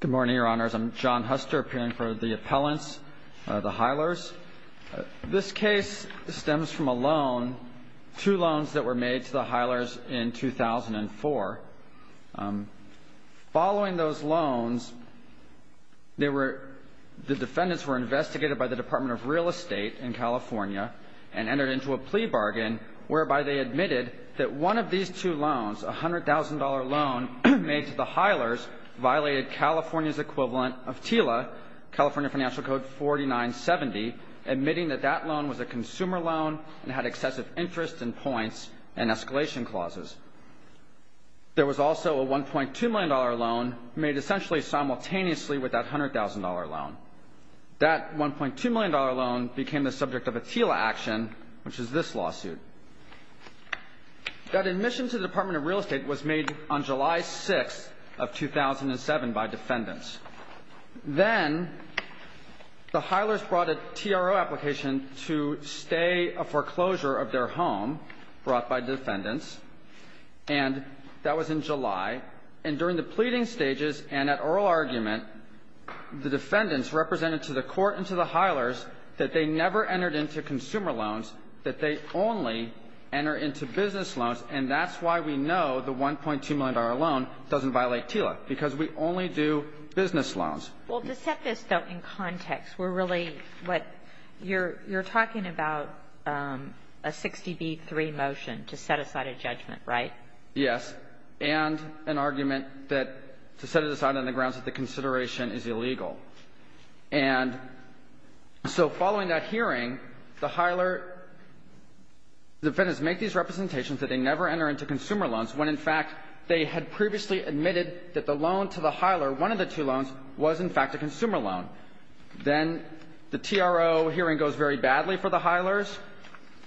Good morning, Your Honors. I'm John Huster, appearing for the appellants, the Hylers. This case stems from a loan, two loans that were made to the Hylers in 2004. Following those loans, the defendants were investigated by the Department of Real Estate in California and entered into a plea bargain whereby they admitted that one of these two loans, a $100,000 loan made to the Hylers, violated California's equivalent of TILA, California Financial Code 4970, admitting that that loan was a consumer loan and had excessive interest and points and escalation clauses. There was also a $1.2 million loan made essentially simultaneously with that $100,000 loan. That $1.2 million loan became the subject of a TILA action, which is this lawsuit. That admission to the Department of Real Estate was made on July 6th of 2007 by defendants. Then the Hylers brought a TRO application to stay a foreclosure of their home brought by defendants, and that was in July. And during the pleading stages and at oral argument, the defendants represented to the court and to the Hylers that they never entered into consumer loans, that they only enter into business loans. And that's why we know the $1.2 million loan doesn't violate TILA, because we only do business loans. Well, to set this, though, in context, we're really what you're talking about a 60B3 motion to set aside a judgment, right? Yes. And an argument that to set it aside on the grounds that the consideration is illegal. And so following that hearing, the Hyler defendants make these representations that they never enter into consumer loans when, in fact, they had previously admitted that the loan to the Hyler, one of the two loans, was, in fact, a consumer loan. Then the TRO hearing goes very badly for the Hylers.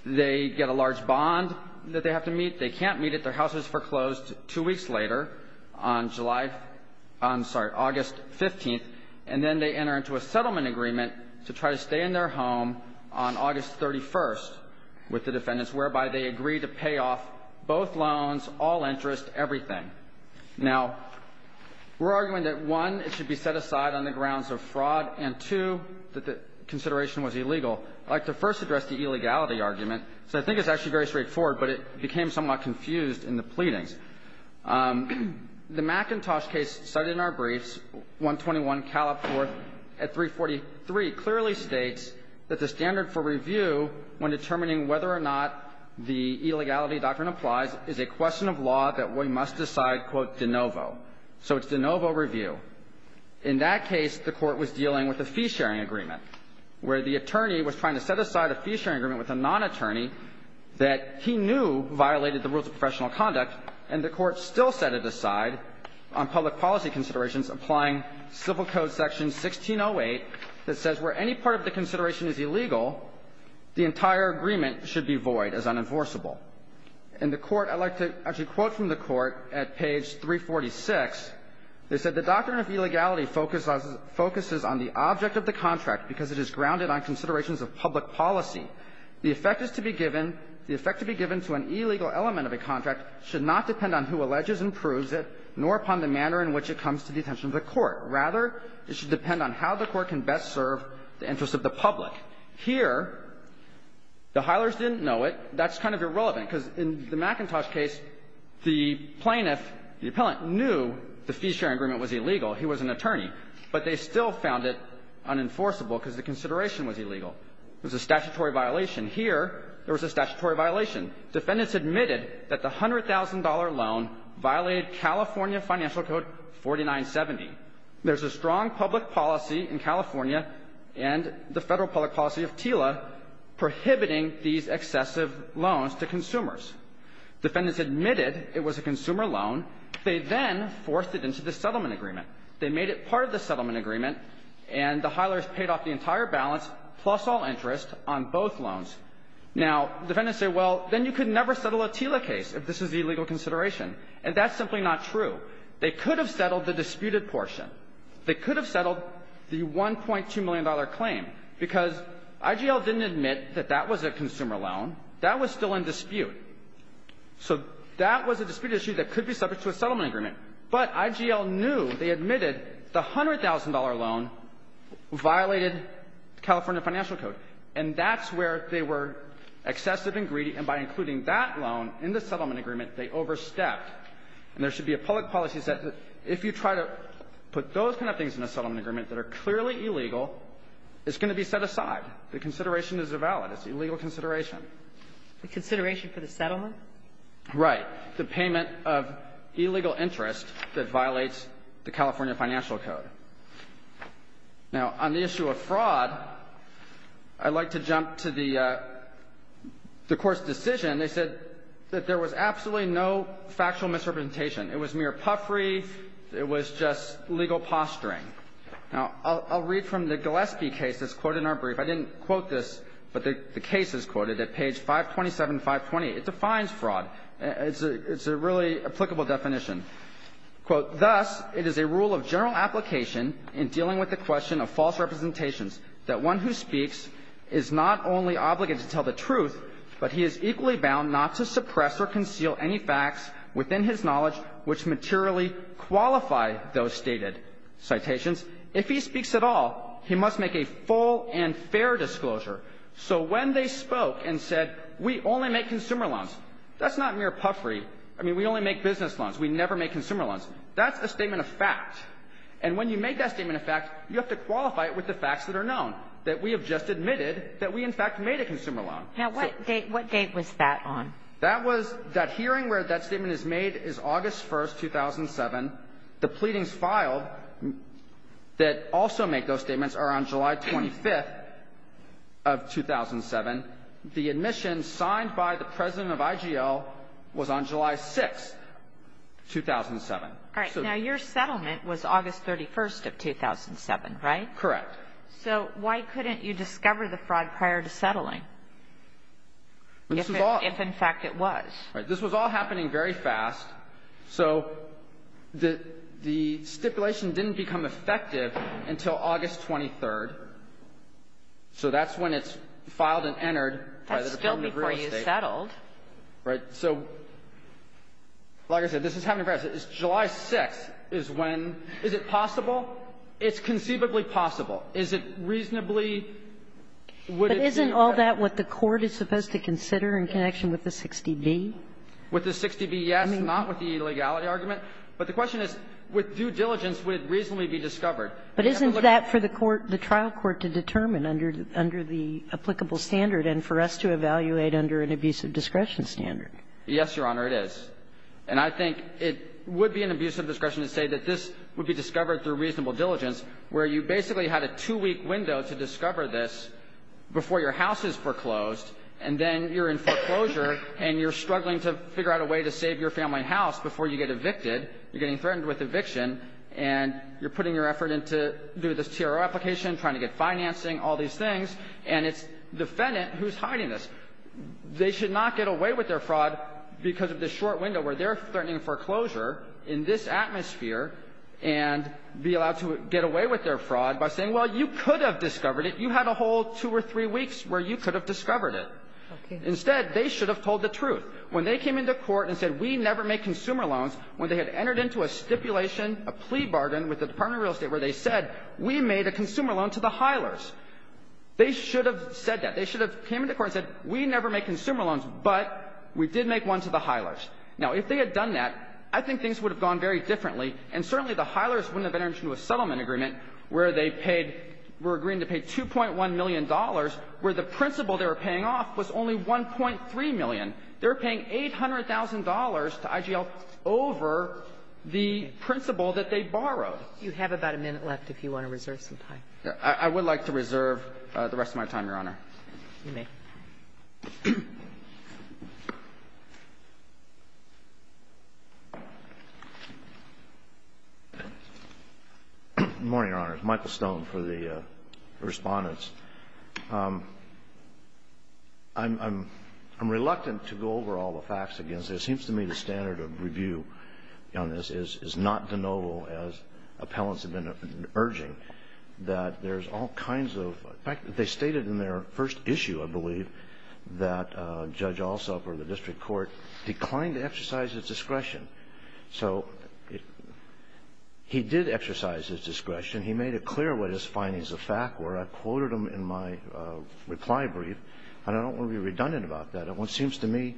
They get a large bond that they have to meet. They can't meet it. Their house was foreclosed two weeks later on July — I'm sorry, August 15th. And then they enter into a settlement agreement to try to stay in their home on August 31st with the defendants, whereby they agree to pay off both loans, all interest, everything. Now, we're arguing that, one, it should be set aside on the grounds of fraud, and, two, that the consideration was illegal. I'd like to first address the illegality argument, because I think it's actually very straightforward, but it became somewhat confused in the pleadings. The McIntosh case cited in our briefs, 121 Calop 4th at 343, clearly states that the standard for review when determining whether or not the illegality doctrine applies is a question of law that we must decide, quote, de novo. So it's de novo review. In that case, the Court was dealing with a fee-sharing agreement, where the attorney was trying to set aside a fee-sharing agreement with a nonattorney that he knew violated the rules of professional conduct, and the Court still set it aside on public policy considerations, applying Civil Code section 1608 that says where any part of the consideration is illegal, the entire agreement should be void as unenforceable. And the Court – I'd like to actually quote from the Court at page 346. They said, Here, the Hilers didn't know it. That's kind of irrelevant, because in the McIntosh case, the plaintiff, the appellant, knew the fee-sharing agreement was illegal. He was an attorney. But they still found it unenforceable because the consideration was illegal. It was a statutory violation. Here, there was a statutory violation. Defendants admitted that the $100,000 loan violated California Financial Code 4970. There's a strong public policy in California and the Federal public policy of TILA prohibiting these excessive loans to consumers. Defendants admitted it was a consumer loan. They then forced it into the settlement agreement. They made it part of the settlement agreement, and the Hilers paid off the entire balance, plus all interest, on both loans. Now, defendants say, well, then you could never settle a TILA case if this is the illegal consideration. And that's simply not true. They could have settled the disputed portion. They could have settled the $1.2 million claim, because IGL didn't admit that that was a consumer loan. That was still in dispute. So that was a disputed issue that could be subject to a settlement agreement. But IGL knew. They admitted the $100,000 loan violated California Financial Code. And that's where they were excessive and greedy. And by including that loan in the settlement agreement, they overstepped. And there should be a public policy that if you try to put those kind of things in a settlement agreement that are clearly illegal, it's going to be set aside. The consideration is valid. It's an illegal consideration. The consideration for the settlement? Right. The payment of illegal interest that violates the California Financial Code. Now, on the issue of fraud, I'd like to jump to the Court's decision. They said that there was absolutely no factual misrepresentation. It was mere puffery. It was just legal posturing. Now, I'll read from the Gillespie case that's quoted in our brief. I didn't quote this, but the case is quoted at page 527, 528. It defines fraud. It's a really applicable definition. Quote, Thus, it is a rule of general application in dealing with the question of false representations that one who speaks is not only obligated to tell the truth, but he is equally bound not to suppress or conceal any facts within his knowledge which materially qualify those stated citations. If he speaks at all, he must make a full and fair disclosure. So when they spoke and said, we only make consumer loans, that's not mere puffery. I mean, we only make business loans. We never make consumer loans. That's a statement of fact. And when you make that statement of fact, you have to qualify it with the facts that are known, that we have just admitted that we, in fact, made a consumer loan. Now, what date was that on? That hearing where that statement is made is August 1, 2007. The pleadings filed that also make those statements are on July 25 of 2007. The admission signed by the president of IGL was on July 6, 2007. All right. Now, your settlement was August 31 of 2007, right? Correct. So why couldn't you discover the fraud prior to settling, if in fact it was? This was all happening very fast. So the stipulation didn't become effective until August 23. So that's when it's filed and entered by the Department of Real Estate. That's still before you settled. Right. So like I said, this is happening very fast. July 6 is when – is it possible? It's conceivably possible. Is it reasonably – would it be? But isn't all that what the Court is supposed to consider in connection with the 60B? With the 60B, yes, not with the illegality argument. But the question is, with due diligence, would it reasonably be discovered? But isn't that for the trial court to determine under the applicable standard and for us to evaluate under an abusive discretion standard? Yes, Your Honor, it is. And I think it would be an abusive discretion to say that this would be discovered through reasonable diligence, where you basically had a two-week window to discover this before your house is foreclosed. And then you're in foreclosure and you're struggling to figure out a way to save You're getting threatened with eviction. And you're putting your effort into doing this TRO application, trying to get financing, all these things, and it's defendant who's hiding this. They should not get away with their fraud because of this short window where they're threatening foreclosure in this atmosphere and be allowed to get away with their fraud by saying, well, you could have discovered it. You had a whole two or three weeks where you could have discovered it. Instead, they should have told the truth. When they came into court and said, we never make consumer loans, when they had entered into a stipulation, a plea bargain with the Department of Real Estate where they said, we made a consumer loan to the Heilers, they should have said that. They should have came into court and said, we never make consumer loans, but we did make one to the Heilers. Now, if they had done that, I think things would have gone very differently, and certainly the Heilers wouldn't have entered into a settlement agreement where they paid — were agreeing to pay $2.1 million, where the principal they were paying off was only $1.3 million. They were paying $800,000 to IGL over the principal that they borrowed. You have about a minute left if you want to reserve some time. I would like to reserve the rest of my time, Your Honor. You may. Good morning, Your Honor. Michael Stone for the Respondents. I'm reluctant to go over all the facts against this. It seems to me the standard of review on this is not de novo, as appellants have been urging, that there's all kinds of — in fact, they stated in their first issue, I believe, that Judge Alsop or the district court declined to exercise his discretion. So he did exercise his discretion. He made it clear what his findings of fact were. I quoted them in my reply brief, and I don't want to be redundant about that. It seems to me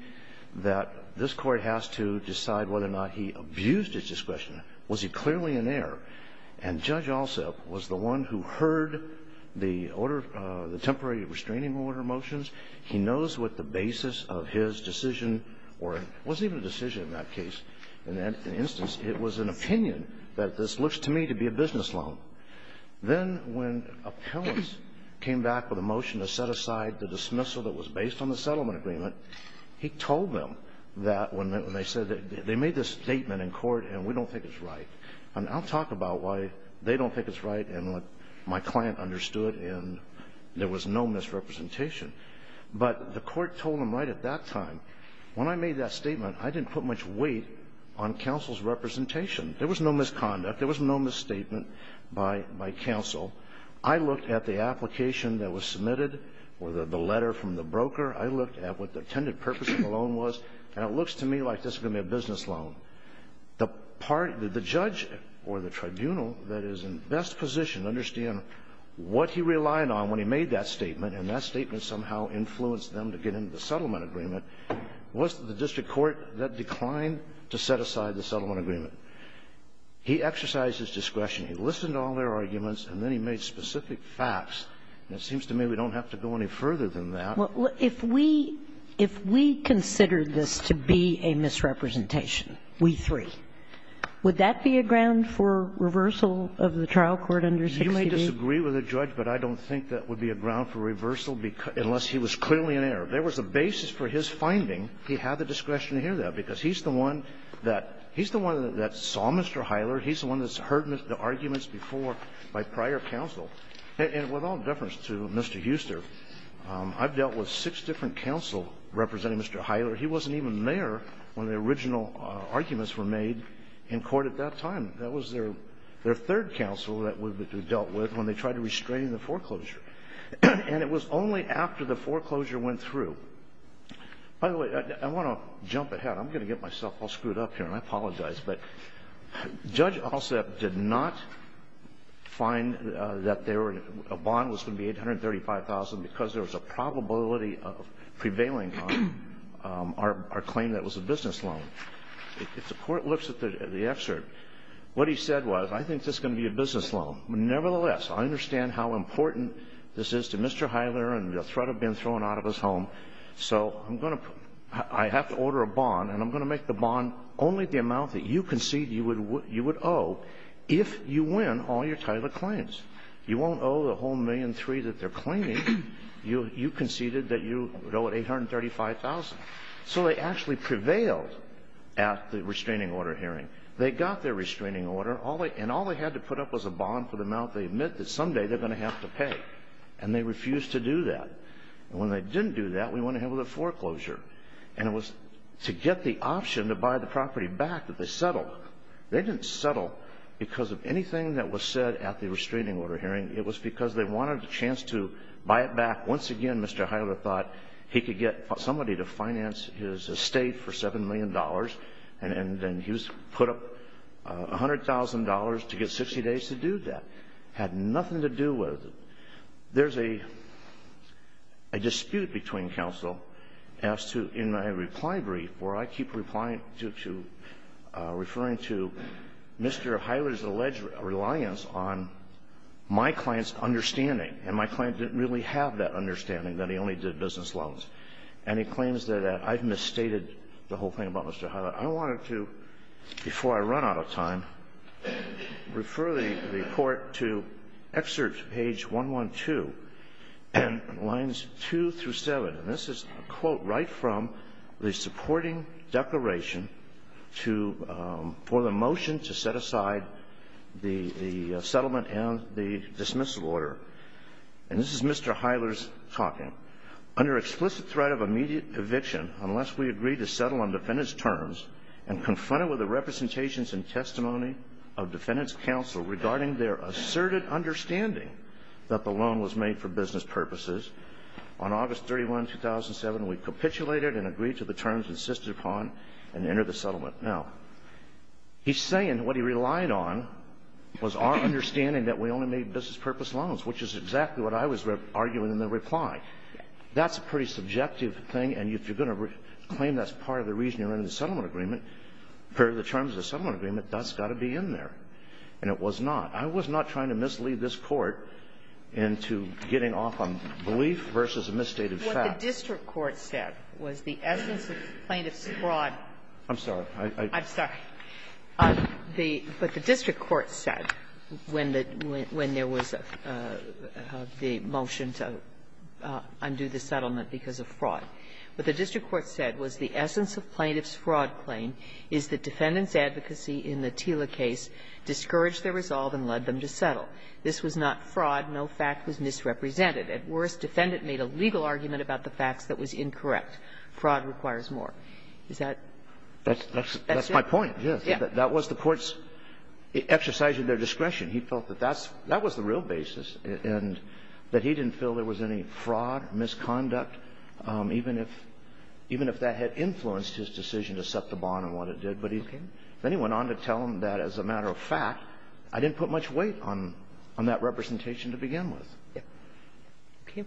that this Court has to decide whether or not he abused his discretion. Was he clearly in error? And Judge Alsop was the one who heard the order — the temporary restraining order motions. He knows what the basis of his decision or — it wasn't even a decision in that case. In that instance, it was an opinion that this looks to me to be a business loan. Then when appellants came back with a motion to set aside the dismissal that was based on the settlement agreement, he told them that when they said — they made this statement in court, and we don't think it's right. And I'll talk about why they don't think it's right and what my client understood, and there was no misrepresentation. But the Court told them right at that time. When I made that statement, I didn't put much weight on counsel's representation. There was no misconduct. There was no misstatement by counsel. I looked at the application that was submitted or the letter from the broker. I looked at what the intended purpose of the loan was, and it looks to me like this is going to be a business loan. The part that the judge or the tribunal that is in best position to understand what he relied on when he made that statement, and that statement somehow influenced them to get into the settlement agreement, was the district court that declined to set aside the settlement agreement. He exercised his discretion. He listened to all their arguments, and then he made specific facts. And it seems to me we don't have to go any further than that. Well, if we — if we considered this to be a misrepresentation, we three, would that be a ground for reversal of the trial court under 60B? You may disagree with the judge, but I don't think that would be a ground for reversal unless he was clearly in error. There was a basis for his finding. He had the discretion to hear that, because he's the one that — he's the one that saw Mr. Hyler. He's the one that's heard the arguments before by prior counsel. And with all deference to Mr. Huster, I've dealt with six different counsel representing Mr. Hyler. He wasn't even there when the original arguments were made in court at that time. That was their third counsel that would be dealt with when they tried to restrain the foreclosure. And it was only after the foreclosure went through. By the way, I want to jump ahead. I'm going to get myself all screwed up here, and I apologize. But Judge Alsup did not find that there were — a bond was going to be $835,000 because there was a probability of prevailing on our claim that it was a business loan. If the Court looks at the excerpt, what he said was, I think this is going to be a business loan. Nevertheless, I understand how important this is to Mr. Hyler and the threat of being sent home. So I'm going to — I have to order a bond, and I'm going to make the bond only the amount that you concede you would owe if you win all your Tyler claims. You won't owe the whole $1.3 million that they're claiming. You conceded that you would owe it $835,000. So they actually prevailed at the restraining order hearing. They got their restraining order, and all they had to put up was a bond for the amount they admit that someday they're going to have to pay. And they refused to do that. And when they didn't do that, we went ahead with a foreclosure. And it was to get the option to buy the property back that they settled. They didn't settle because of anything that was said at the restraining order hearing. It was because they wanted a chance to buy it back once again. Mr. Hyler thought he could get somebody to finance his estate for $7 million, and then he put up $100,000 to get 60 days to do that. It had nothing to do with it. There's a dispute between counsel as to, in my reply brief, where I keep referring to Mr. Hyler's alleged reliance on my client's understanding, and my client didn't really have that understanding, that he only did business loans. And he claims that I've misstated the whole thing about Mr. Hyler. But I wanted to, before I run out of time, refer the Court to excerpt page 112 and lines 2 through 7. And this is a quote right from the supporting declaration for the motion to set aside the settlement and the dismissal order. And this is Mr. Hyler's talking. Now, he's saying what he relied on was our understanding that we only made business purpose loans, which is exactly what I was arguing in the reply. That's a pretty subjective thing. And if you're going to claim that's part of the reason you're in the settlement agreement, per the terms of the settlement agreement, that's got to be in there. And it was not. I was not trying to mislead this Court into getting off on belief versus a misstated fact. Ginsburg. What the district court said was the evidence of plaintiff's fraud. I'm sorry. I'm sorry. But the district court said when there was the motion to undo the settlement because of fraud, what the district court said was the essence of plaintiff's fraud claim is that defendant's advocacy in the Tila case discouraged their resolve and led them to settle. This was not fraud. No fact was misrepresented. At worst, defendant made a legal argument about the facts that was incorrect. Fraud requires more. Is that? That's my point, yes. That was the Court's exercise of their discretion. He felt that that's the real basis, and that he didn't feel there was any fraud or misconduct, even if that had influenced his decision to set the bond and what it did. But then he went on to tell them that, as a matter of fact, I didn't put much weight on that representation to begin with. Okay.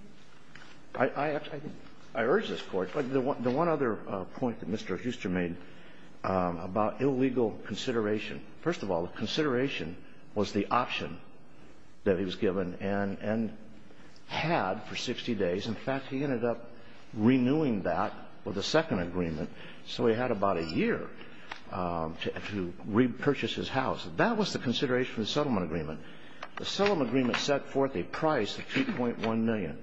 I urge this Court, but the one other point that Mr. Hooster made about illegal consideration. First of all, consideration was the option that he was given and had for 60 days. In fact, he ended up renewing that with a second agreement. So he had about a year to repurchase his house. That was the consideration of the settlement agreement. The settlement agreement set forth a price of $2.1 million.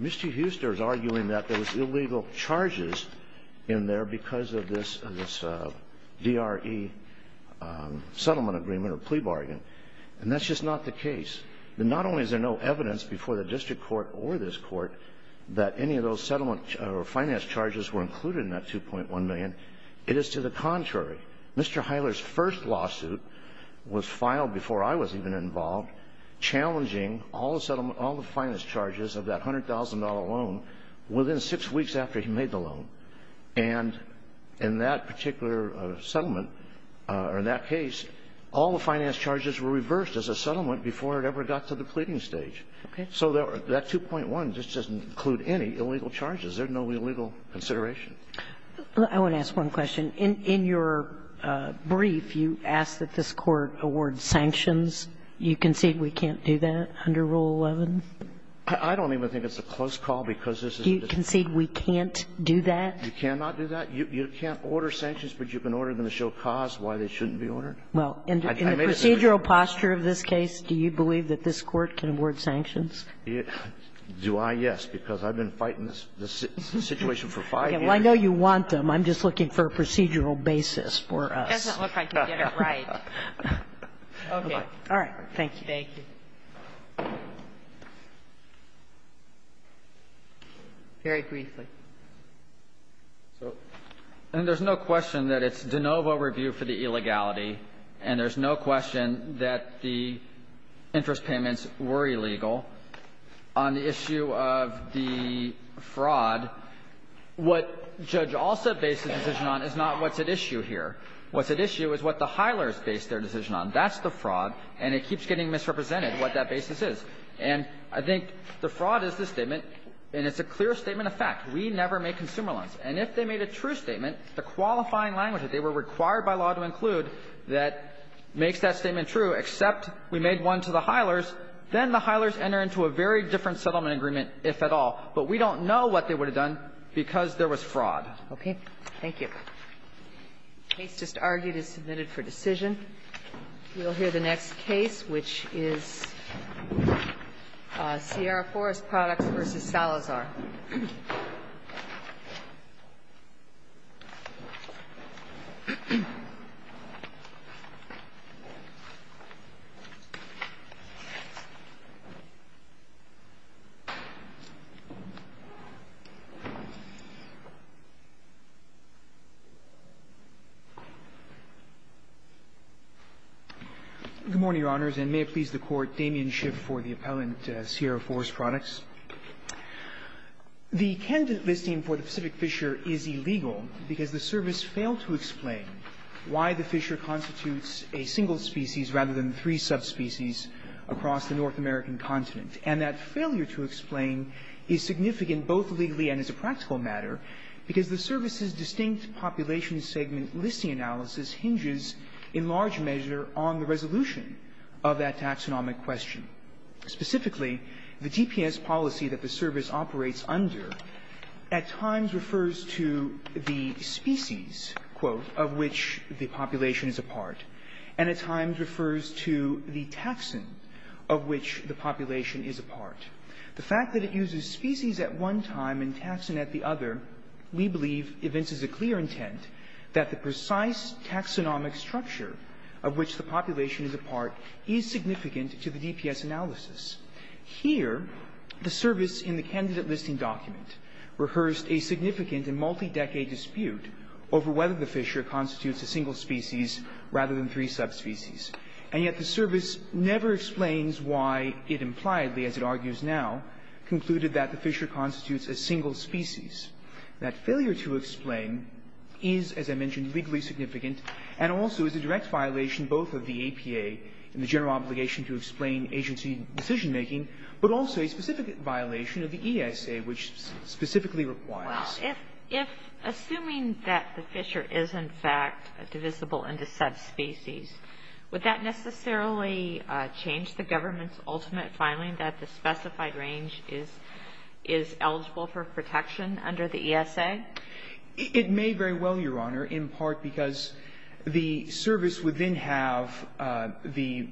Mr. Hooster is arguing that there was illegal charges in there because of this DRE settlement agreement or plea bargain. And that's just not the case. And not only is there no evidence before the district court or this Court that any of those settlement or finance charges were included in that $2.1 million, it is to the contrary. Mr. Hiler's first lawsuit was filed before I was even involved, challenging all the settlement, all the finance charges of that $100,000 loan within six weeks after he made the loan. And in that particular settlement, or in that case, all the finance charges were reversed as a settlement before it ever got to the pleading stage. Okay. So that 2.1 just doesn't include any illegal charges. There's no illegal consideration. I want to ask one question. In your brief, you ask that this Court award sanctions. You concede we can't do that under Rule 11? I don't even think it's a close call, because this is a dispute. Do you concede we can't do that? You cannot do that? You can't order sanctions, but you can order them to show cause why they shouldn't be ordered? Well, in the procedural posture of this case, do you believe that this Court can award sanctions? Do I? Yes, because I've been fighting this situation for five years. Well, I know you want them. I'm just looking for a procedural basis for us. It doesn't look like you get it right. Okay. All right. Thank you. Thank you. Very briefly. So there's no question that it's de novo review for the illegality, and there's no question that the interest payments were illegal. On the issue of the fraud, what Judge Alsop based the decision on is not what's at issue here. What's at issue is what the Hilers based their decision on. That's the fraud, and it keeps getting misrepresented what that basis is. And I think the fraud is this statement, and it's a clear statement of fact. We never make consumer loans. And if they made a true statement, the qualifying language that they were required by law to include that makes that statement true, except we made one to the Hilers, then the Hilers enter into a very different settlement agreement, if at all. But we don't know what they would have done because there was fraud. Okay. Thank you. The case just argued is submitted for decision. We'll hear the next case, which is Sierra Forest Products v. Salazar. Good morning, Your Honors, and may it please the Court, Damian Schiff for the appellant Sierra Forest Products. The candidate listing for the Pacific Fisher is illegal because the service failed to explain why the fisher constitutes a single species rather than three subspecies across the North American continent. And that failure to explain is significant both legally and as a practical matter because the service's distinct population segment listing analysis hinges in large measure on the resolution of that taxonomic question. Specifically, the DPS policy that the service operates under at times refers to the species, quote, of which the population is a part, and at times refers to the taxon of which the population is a part. The fact that it uses species at one time and taxon at the other, we believe evinces a clear intent that the precise taxonomic structure of which the population is a part is significant to the DPS analysis. Here, the service in the candidate listing document rehearsed a significant and multi-decade dispute over whether the fisher constitutes a single species rather than three subspecies. And yet the service never explains why it impliedly, as it argues now, concluded that the fisher constitutes a single species. That failure to explain is, as I mentioned, legally significant and also is a direct violation both of the APA and the general obligation to explain agency decision-making, but also a specific violation of the ESA, which specifically requires. If assuming that the fisher is, in fact, divisible into subspecies, would that necessarily change the government's ultimate finding that the specified range is eligible for protection under the ESA? It may very well, Your Honor, in part because the service would then have the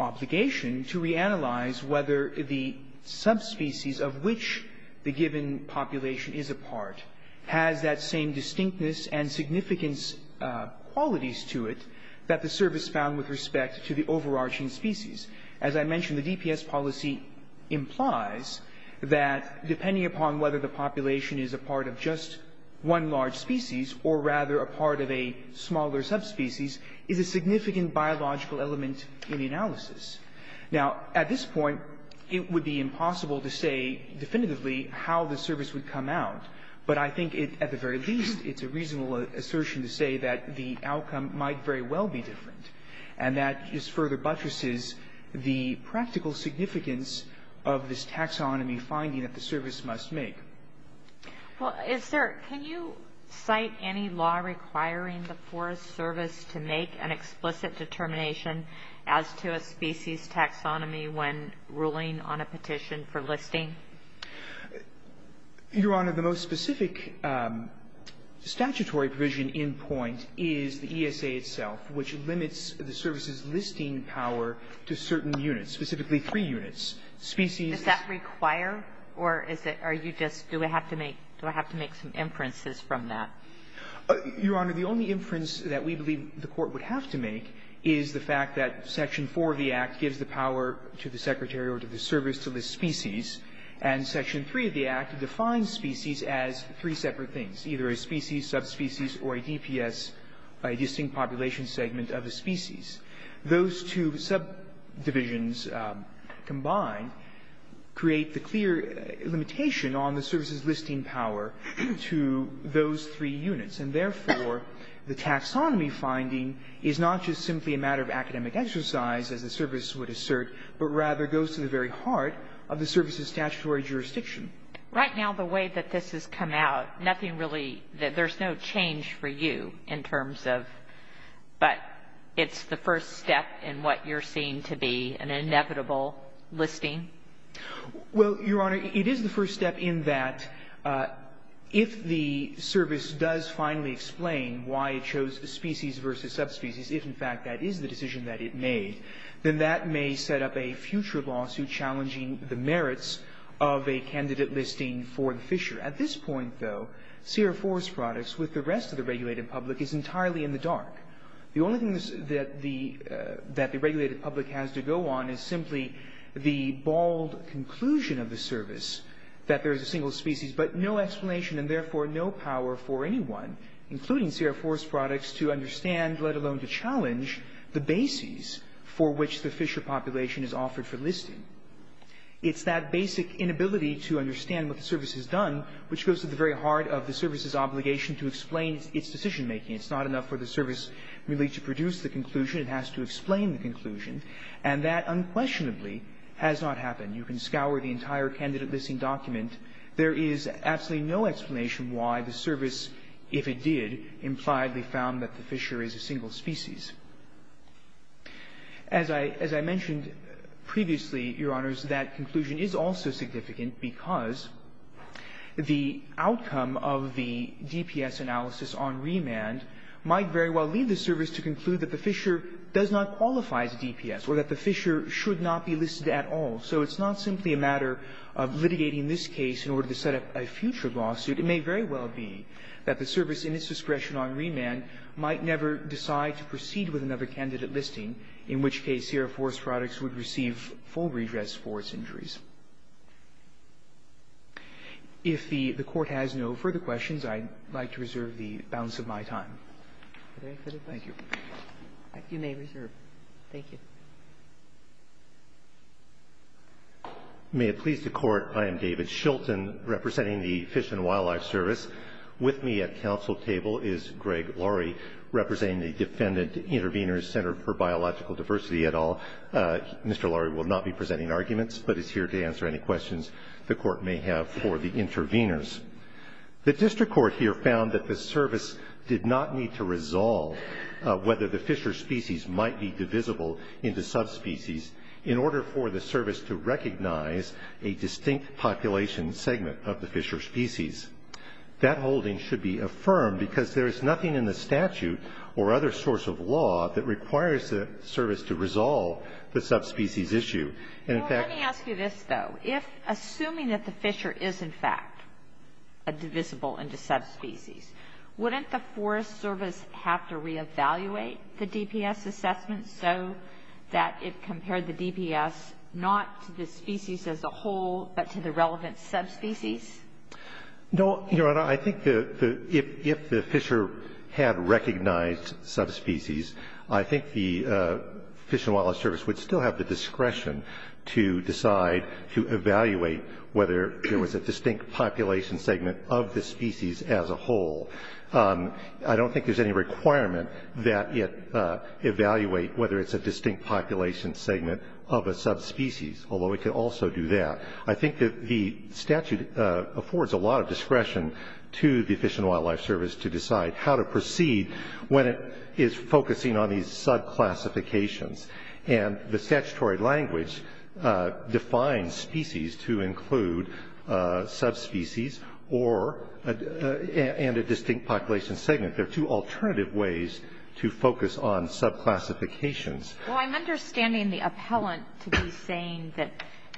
obligation to reanalyze whether the subspecies of which the given population is a part has that same distinctness and significance qualities to it that the service found with respect to the overarching species. As I mentioned, the DPS policy implies that depending upon whether the population is a part of just one large species or rather a part of a smaller subspecies is a significant biological element in the analysis. Now, at this point, it would be impossible to say definitively how the service would come out, but I think at the very least it's a reasonable assertion to say that the outcome might very well be different. And that just further buttresses the practical significance of this taxonomy finding that the service must make. Well, is there – can you cite any law requiring the Forest Service to make an explicit determination as to a species taxonomy when ruling on a petition for listing? Your Honor, the most specific statutory provision in point is the ESA itself, which limits the service's listing power to certain units, specifically three units. Species – Do I have to make some inferences from that? Your Honor, the only inference that we believe the Court would have to make is the fact that Section 4 of the Act gives the power to the Secretary or to the service to list species, and Section 3 of the Act defines species as three separate things, either a species, subspecies, or a DPS, a distinct population segment of a species. Those two subdivisions combined create the clear limitation on the service's listing power to those three units, and therefore, the taxonomy finding is not just simply a matter of academic exercise, as the service would assert, but rather goes to the very heart of the service's statutory jurisdiction. Right now, the way that this has come out, nothing really – there's no change for you in terms of – but it's the first step in what you're seeing to be an inevitable listing? Well, Your Honor, it is the first step in that if the service does finally explain why it chose species versus subspecies, if, in fact, that is the decision that it made, then that may set up a future lawsuit challenging the merits of a candidate listing for the fisher. At this point, though, Sierra Forest Products, with the rest of the regulated public, is entirely in the dark. The only thing that the regulated public has to go on is simply the bald conclusion of the service that there is a single species, but no explanation, and therefore, no power for anyone, including Sierra Forest Products, to understand, let alone to challenge, the bases for which the fisher population is offered for listing. It's that basic inability to understand what the service has done which goes to the very heart of the service's obligation to explain its decision-making. It's not enough for the service really to produce the conclusion. It has to explain the conclusion, and that unquestionably has not happened. You can scour the entire candidate listing document. There is absolutely no explanation why the service, if it did, implied they found that the fisher is a single species. As I mentioned previously, Your Honors, that conclusion is also significant because the outcome of the DPS analysis on remand might very well lead the service to conclude that the fisher does not qualify as a DPS or that the fisher should not be listed at all. So it's not simply a matter of litigating this case in order to set up a future lawsuit. It may very well be that the service, in its discretion on remand, might never decide to proceed with another candidate listing, in which case Sierra Forest Products would receive full redress for its injuries. If the Court has no further questions, I'd like to reserve the balance of my time. Thank you. You may reserve. Thank you. May it please the Court, I am David Shilton representing the Fish and Wildlife Service. With me at council table is Greg Laurie representing the Defendant Intervenors Center for Biological Diversity et al. Mr. Laurie will not be presenting arguments, but is here to answer any questions the Court may have for the intervenors. The district court here found that the service did not need to resolve whether the fisher species might be divisible into subspecies in order for the service to recognize a distinct population segment of the fisher species. That holding should be affirmed because there is nothing in the statute or other source of law that requires the service to resolve the subspecies issue. And in fact ---- Well, let me ask you this, though. If assuming that the fisher is, in fact, divisible into subspecies, wouldn't the Forest Service have to reevaluate the DPS assessment so that it compared the DPS not to the species as a whole, but to the relevant subspecies? No, Your Honor. I think that if the fisher had recognized subspecies, I think the Fish and Wildlife Service would still have the discretion to decide to evaluate whether there was a distinct population segment of the species as a whole. I don't think there's any requirement that it evaluate whether it's a distinct population segment of a subspecies, although it could also do that. I think that the statute affords a lot of discretion to the Fish and Wildlife Service to decide how to proceed when it is focusing on these subclassifications. And the statutory language defines species to include subspecies or ---- and a distinct population segment. There are two alternative ways to focus on subclassifications. Well, I'm understanding the appellant to be saying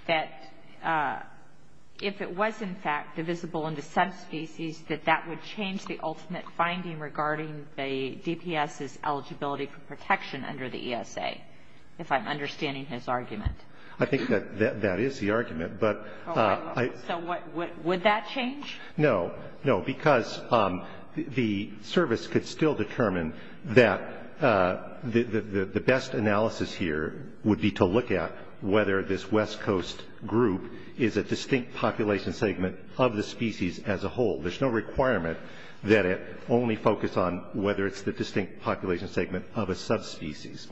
that if it was, in fact, divisible into subspecies, that that would change the ultimate finding regarding the DPS's eligibility for protection under the ESA, if I'm understanding his argument. I think that that is the argument. So would that change? No. No, because the service could still determine that the best analysis here would be to look at whether this West Coast group is a distinct population segment of the species as a whole. There's no requirement that it only focus on whether it's the distinct population segment of a subspecies.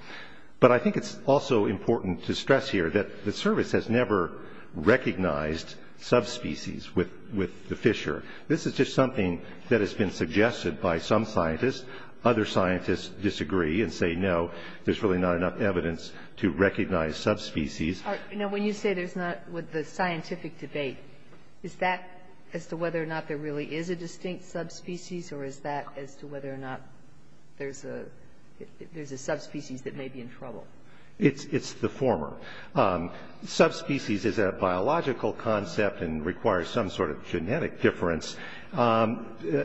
But I think it's also important to stress here that the service has never recognized subspecies with the Fisher. This is just something that has been suggested by some scientists. Other scientists disagree and say, no, there's really not enough evidence to recognize subspecies. Now, when you say there's not, with the scientific debate, is that as to whether or not there really is a distinct subspecies, or is that as to whether or not there's a subspecies that may be in trouble? It's the former. Subspecies is a biological concept and requires some sort of genetic difference to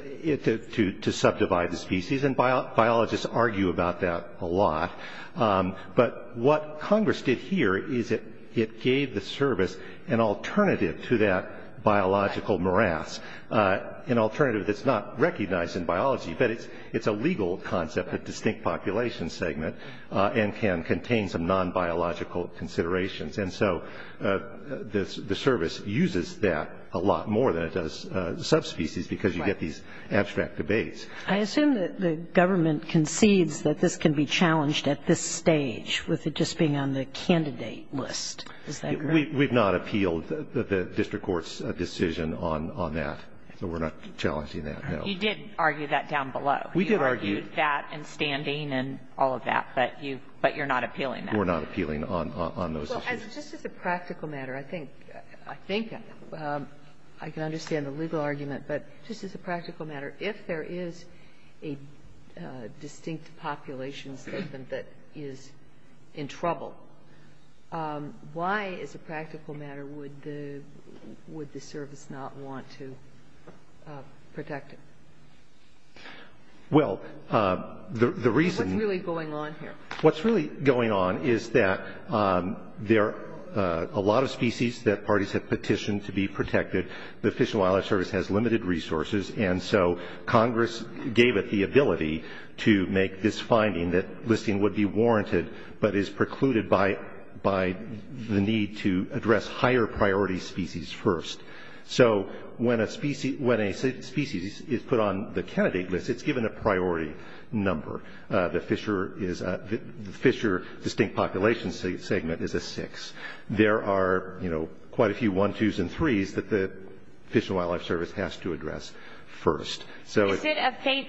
subdivide the species, and biologists argue about that a lot. But what Congress did here is it gave the service an alternative to that biological morass, an alternative that's not recognized in biology, but it's a legal concept, a And so the service uses that a lot more than it does subspecies because you get these abstract debates. I assume that the government concedes that this can be challenged at this stage with it just being on the candidate list. Is that correct? We've not appealed the district court's decision on that. We're not challenging that, no. You did argue that down below. We did argue. You argued that and standing and all of that, but you're not appealing that. We're not appealing on those issues. Well, just as a practical matter, I think I can understand the legal argument, but just as a practical matter, if there is a distinct population that is in trouble, why, as a practical matter, would the service not want to protect it? Well, the reason What's really going on here? What's really going on is that there are a lot of species that parties have petitioned to be protected. The Fish and Wildlife Service has limited resources, and so Congress gave it the ability to make this finding that listing would be warranted but is precluded by the need to address higher priority species first. So when a species is put on the candidate list, it's given a priority number. The fisher distinct population segment is a six. There are, you know, quite a few one, twos, and threes that the Fish and Wildlife Service has to address first. Is it a fate?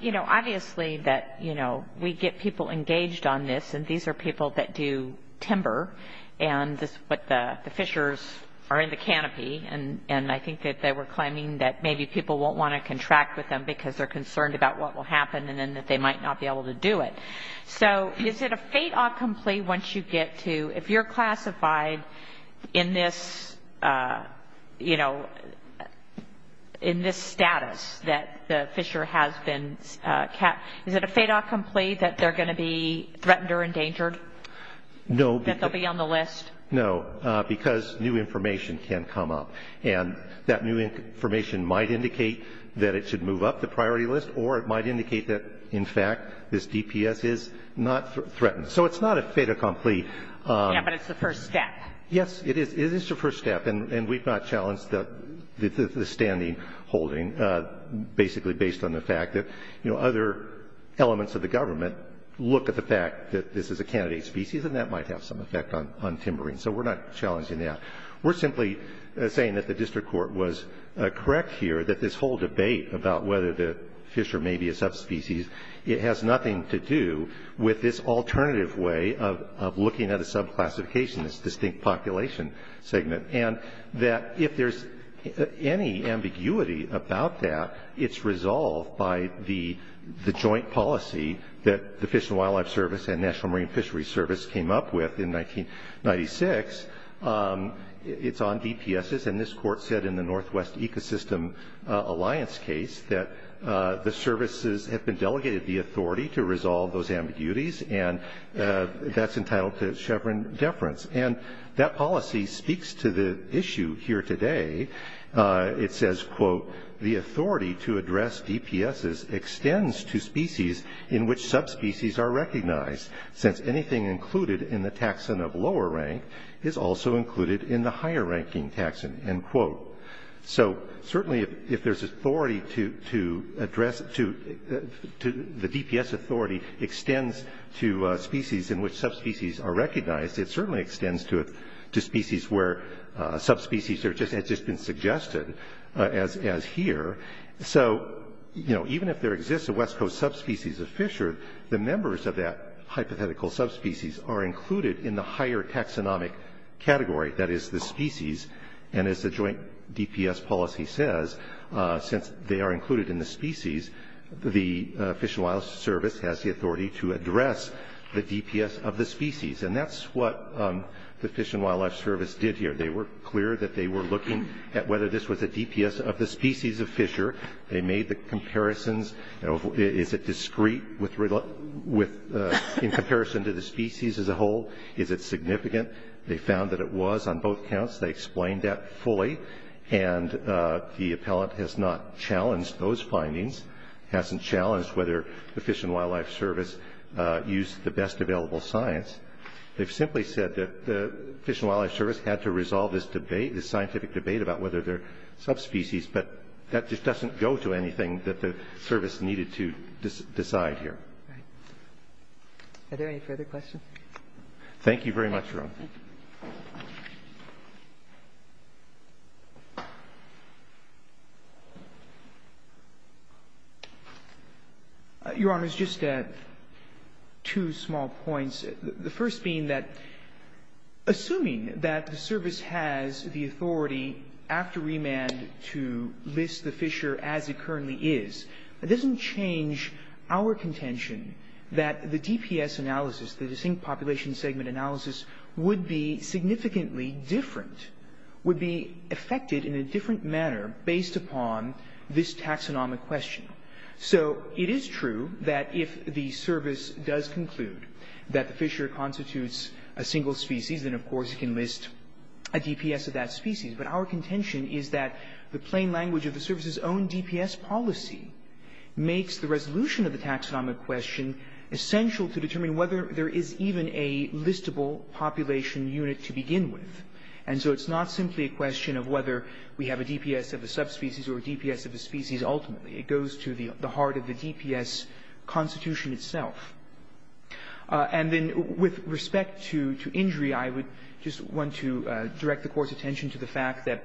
You know, obviously that, you know, we get people engaged on this, and these are people that do timber, but the fishers are in the canopy, and I think that they were claiming that maybe people won't want to contract with them because they're concerned about what will happen and then that they might not be able to do it. So is it a fate-autcomplete once you get to, if you're classified in this, you know, in this status that the fisher has been, is it a fate-autcomplete that they're going to be threatened or endangered? No. That they'll be on the list? No, because new information can come up, and that new information might indicate that it should move up the priority list, or it might indicate that, in fact, this DPS is not threatened. So it's not a fate-autcomplete. Yeah, but it's the first step. Yes, it is. It is the first step, and we've not challenged the standing holding basically based on the fact that, you know, other elements of the government look at the fact that this is a candidate species, and that might have some effect on timbering. So we're not challenging that. We're simply saying that the district court was correct here that this whole debate about whether the fisher may be a subspecies, it has nothing to do with this alternative way of looking at a subclassification, this distinct population segment, and that if there's any ambiguity about that, it's resolved by the joint policy that the Fish and Wildlife Service and National Marine Fishery Service came up with in 1996. It's on DPSs, and this court said in the Northwest Ecosystem Alliance case that the services have been delegated the authority to resolve those ambiguities, and that's entitled to Chevron deference, and that policy speaks to the issue here today. It says, quote, the authority to address DPSs extends to species in which subspecies are recognized, since anything included in the taxon of lower rank is also included in the higher ranking taxon, end quote. So certainly if there's authority to address, the DPS authority extends to species in which subspecies are recognized, it certainly extends to species where subspecies have just been suggested as here, so even if there exists a West Coast subspecies of fisher, the members of that hypothetical subspecies are included in the higher taxonomic category, that is the species, and as the joint DPS policy says, since they are included in the species, the Fish and Wildlife Service has the authority to address the DPS of the species, and that's what the Fish and Wildlife Service did here. They were clear that they were looking at whether this was a DPS of the species of fisher, they made the comparisons, is it discrete in comparison to the species as a whole, is it significant, they found that it was on both counts, they explained that fully, and the appellant has not challenged those findings, hasn't challenged whether the Fish and Wildlife Service used the best available science. They've simply said that the Fish and Wildlife Service had to resolve this debate, this scientific debate about whether they're subspecies, but that just doesn't go to anything that the service needed to decide here. Are there any further questions? Thank you very much, Your Honor. Your Honor, just two small points, the first being that assuming that the service has the authority after remand to list the fisher as it currently is, it doesn't change our significantly different, would be affected in a different manner based upon this taxonomic question. So it is true that if the service does conclude that the fisher constitutes a single species, then of course it can list a DPS of that species, but our contention is that the plain language of the service's own DPS policy makes the resolution of the taxonomic question essential to determine whether there is even a listable population unit to begin with. And so it's not simply a question of whether we have a DPS of a subspecies or a DPS of a species ultimately. It goes to the heart of the DPS constitution itself. And then with respect to injury, I would just want to direct the Court's attention to the fact that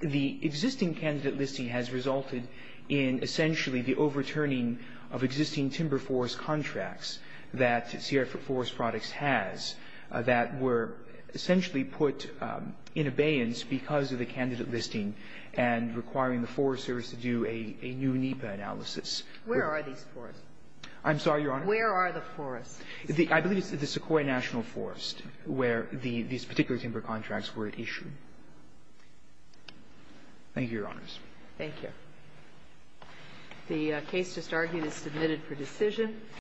the existing candidate listing has resulted in essentially the overturning of existing timber forest contracts that Sierra Forest Products has that were essentially put in abeyance because of the candidate listing and requiring the Forest Service to do a new NEPA analysis. Where are these forests? I'm sorry, Your Honor. Where are the forests? I believe it's the Sequoia National Forest where these particular timber contracts were issued. Thank you, Your Honors. Thank you. The case just argued is submitted for decision.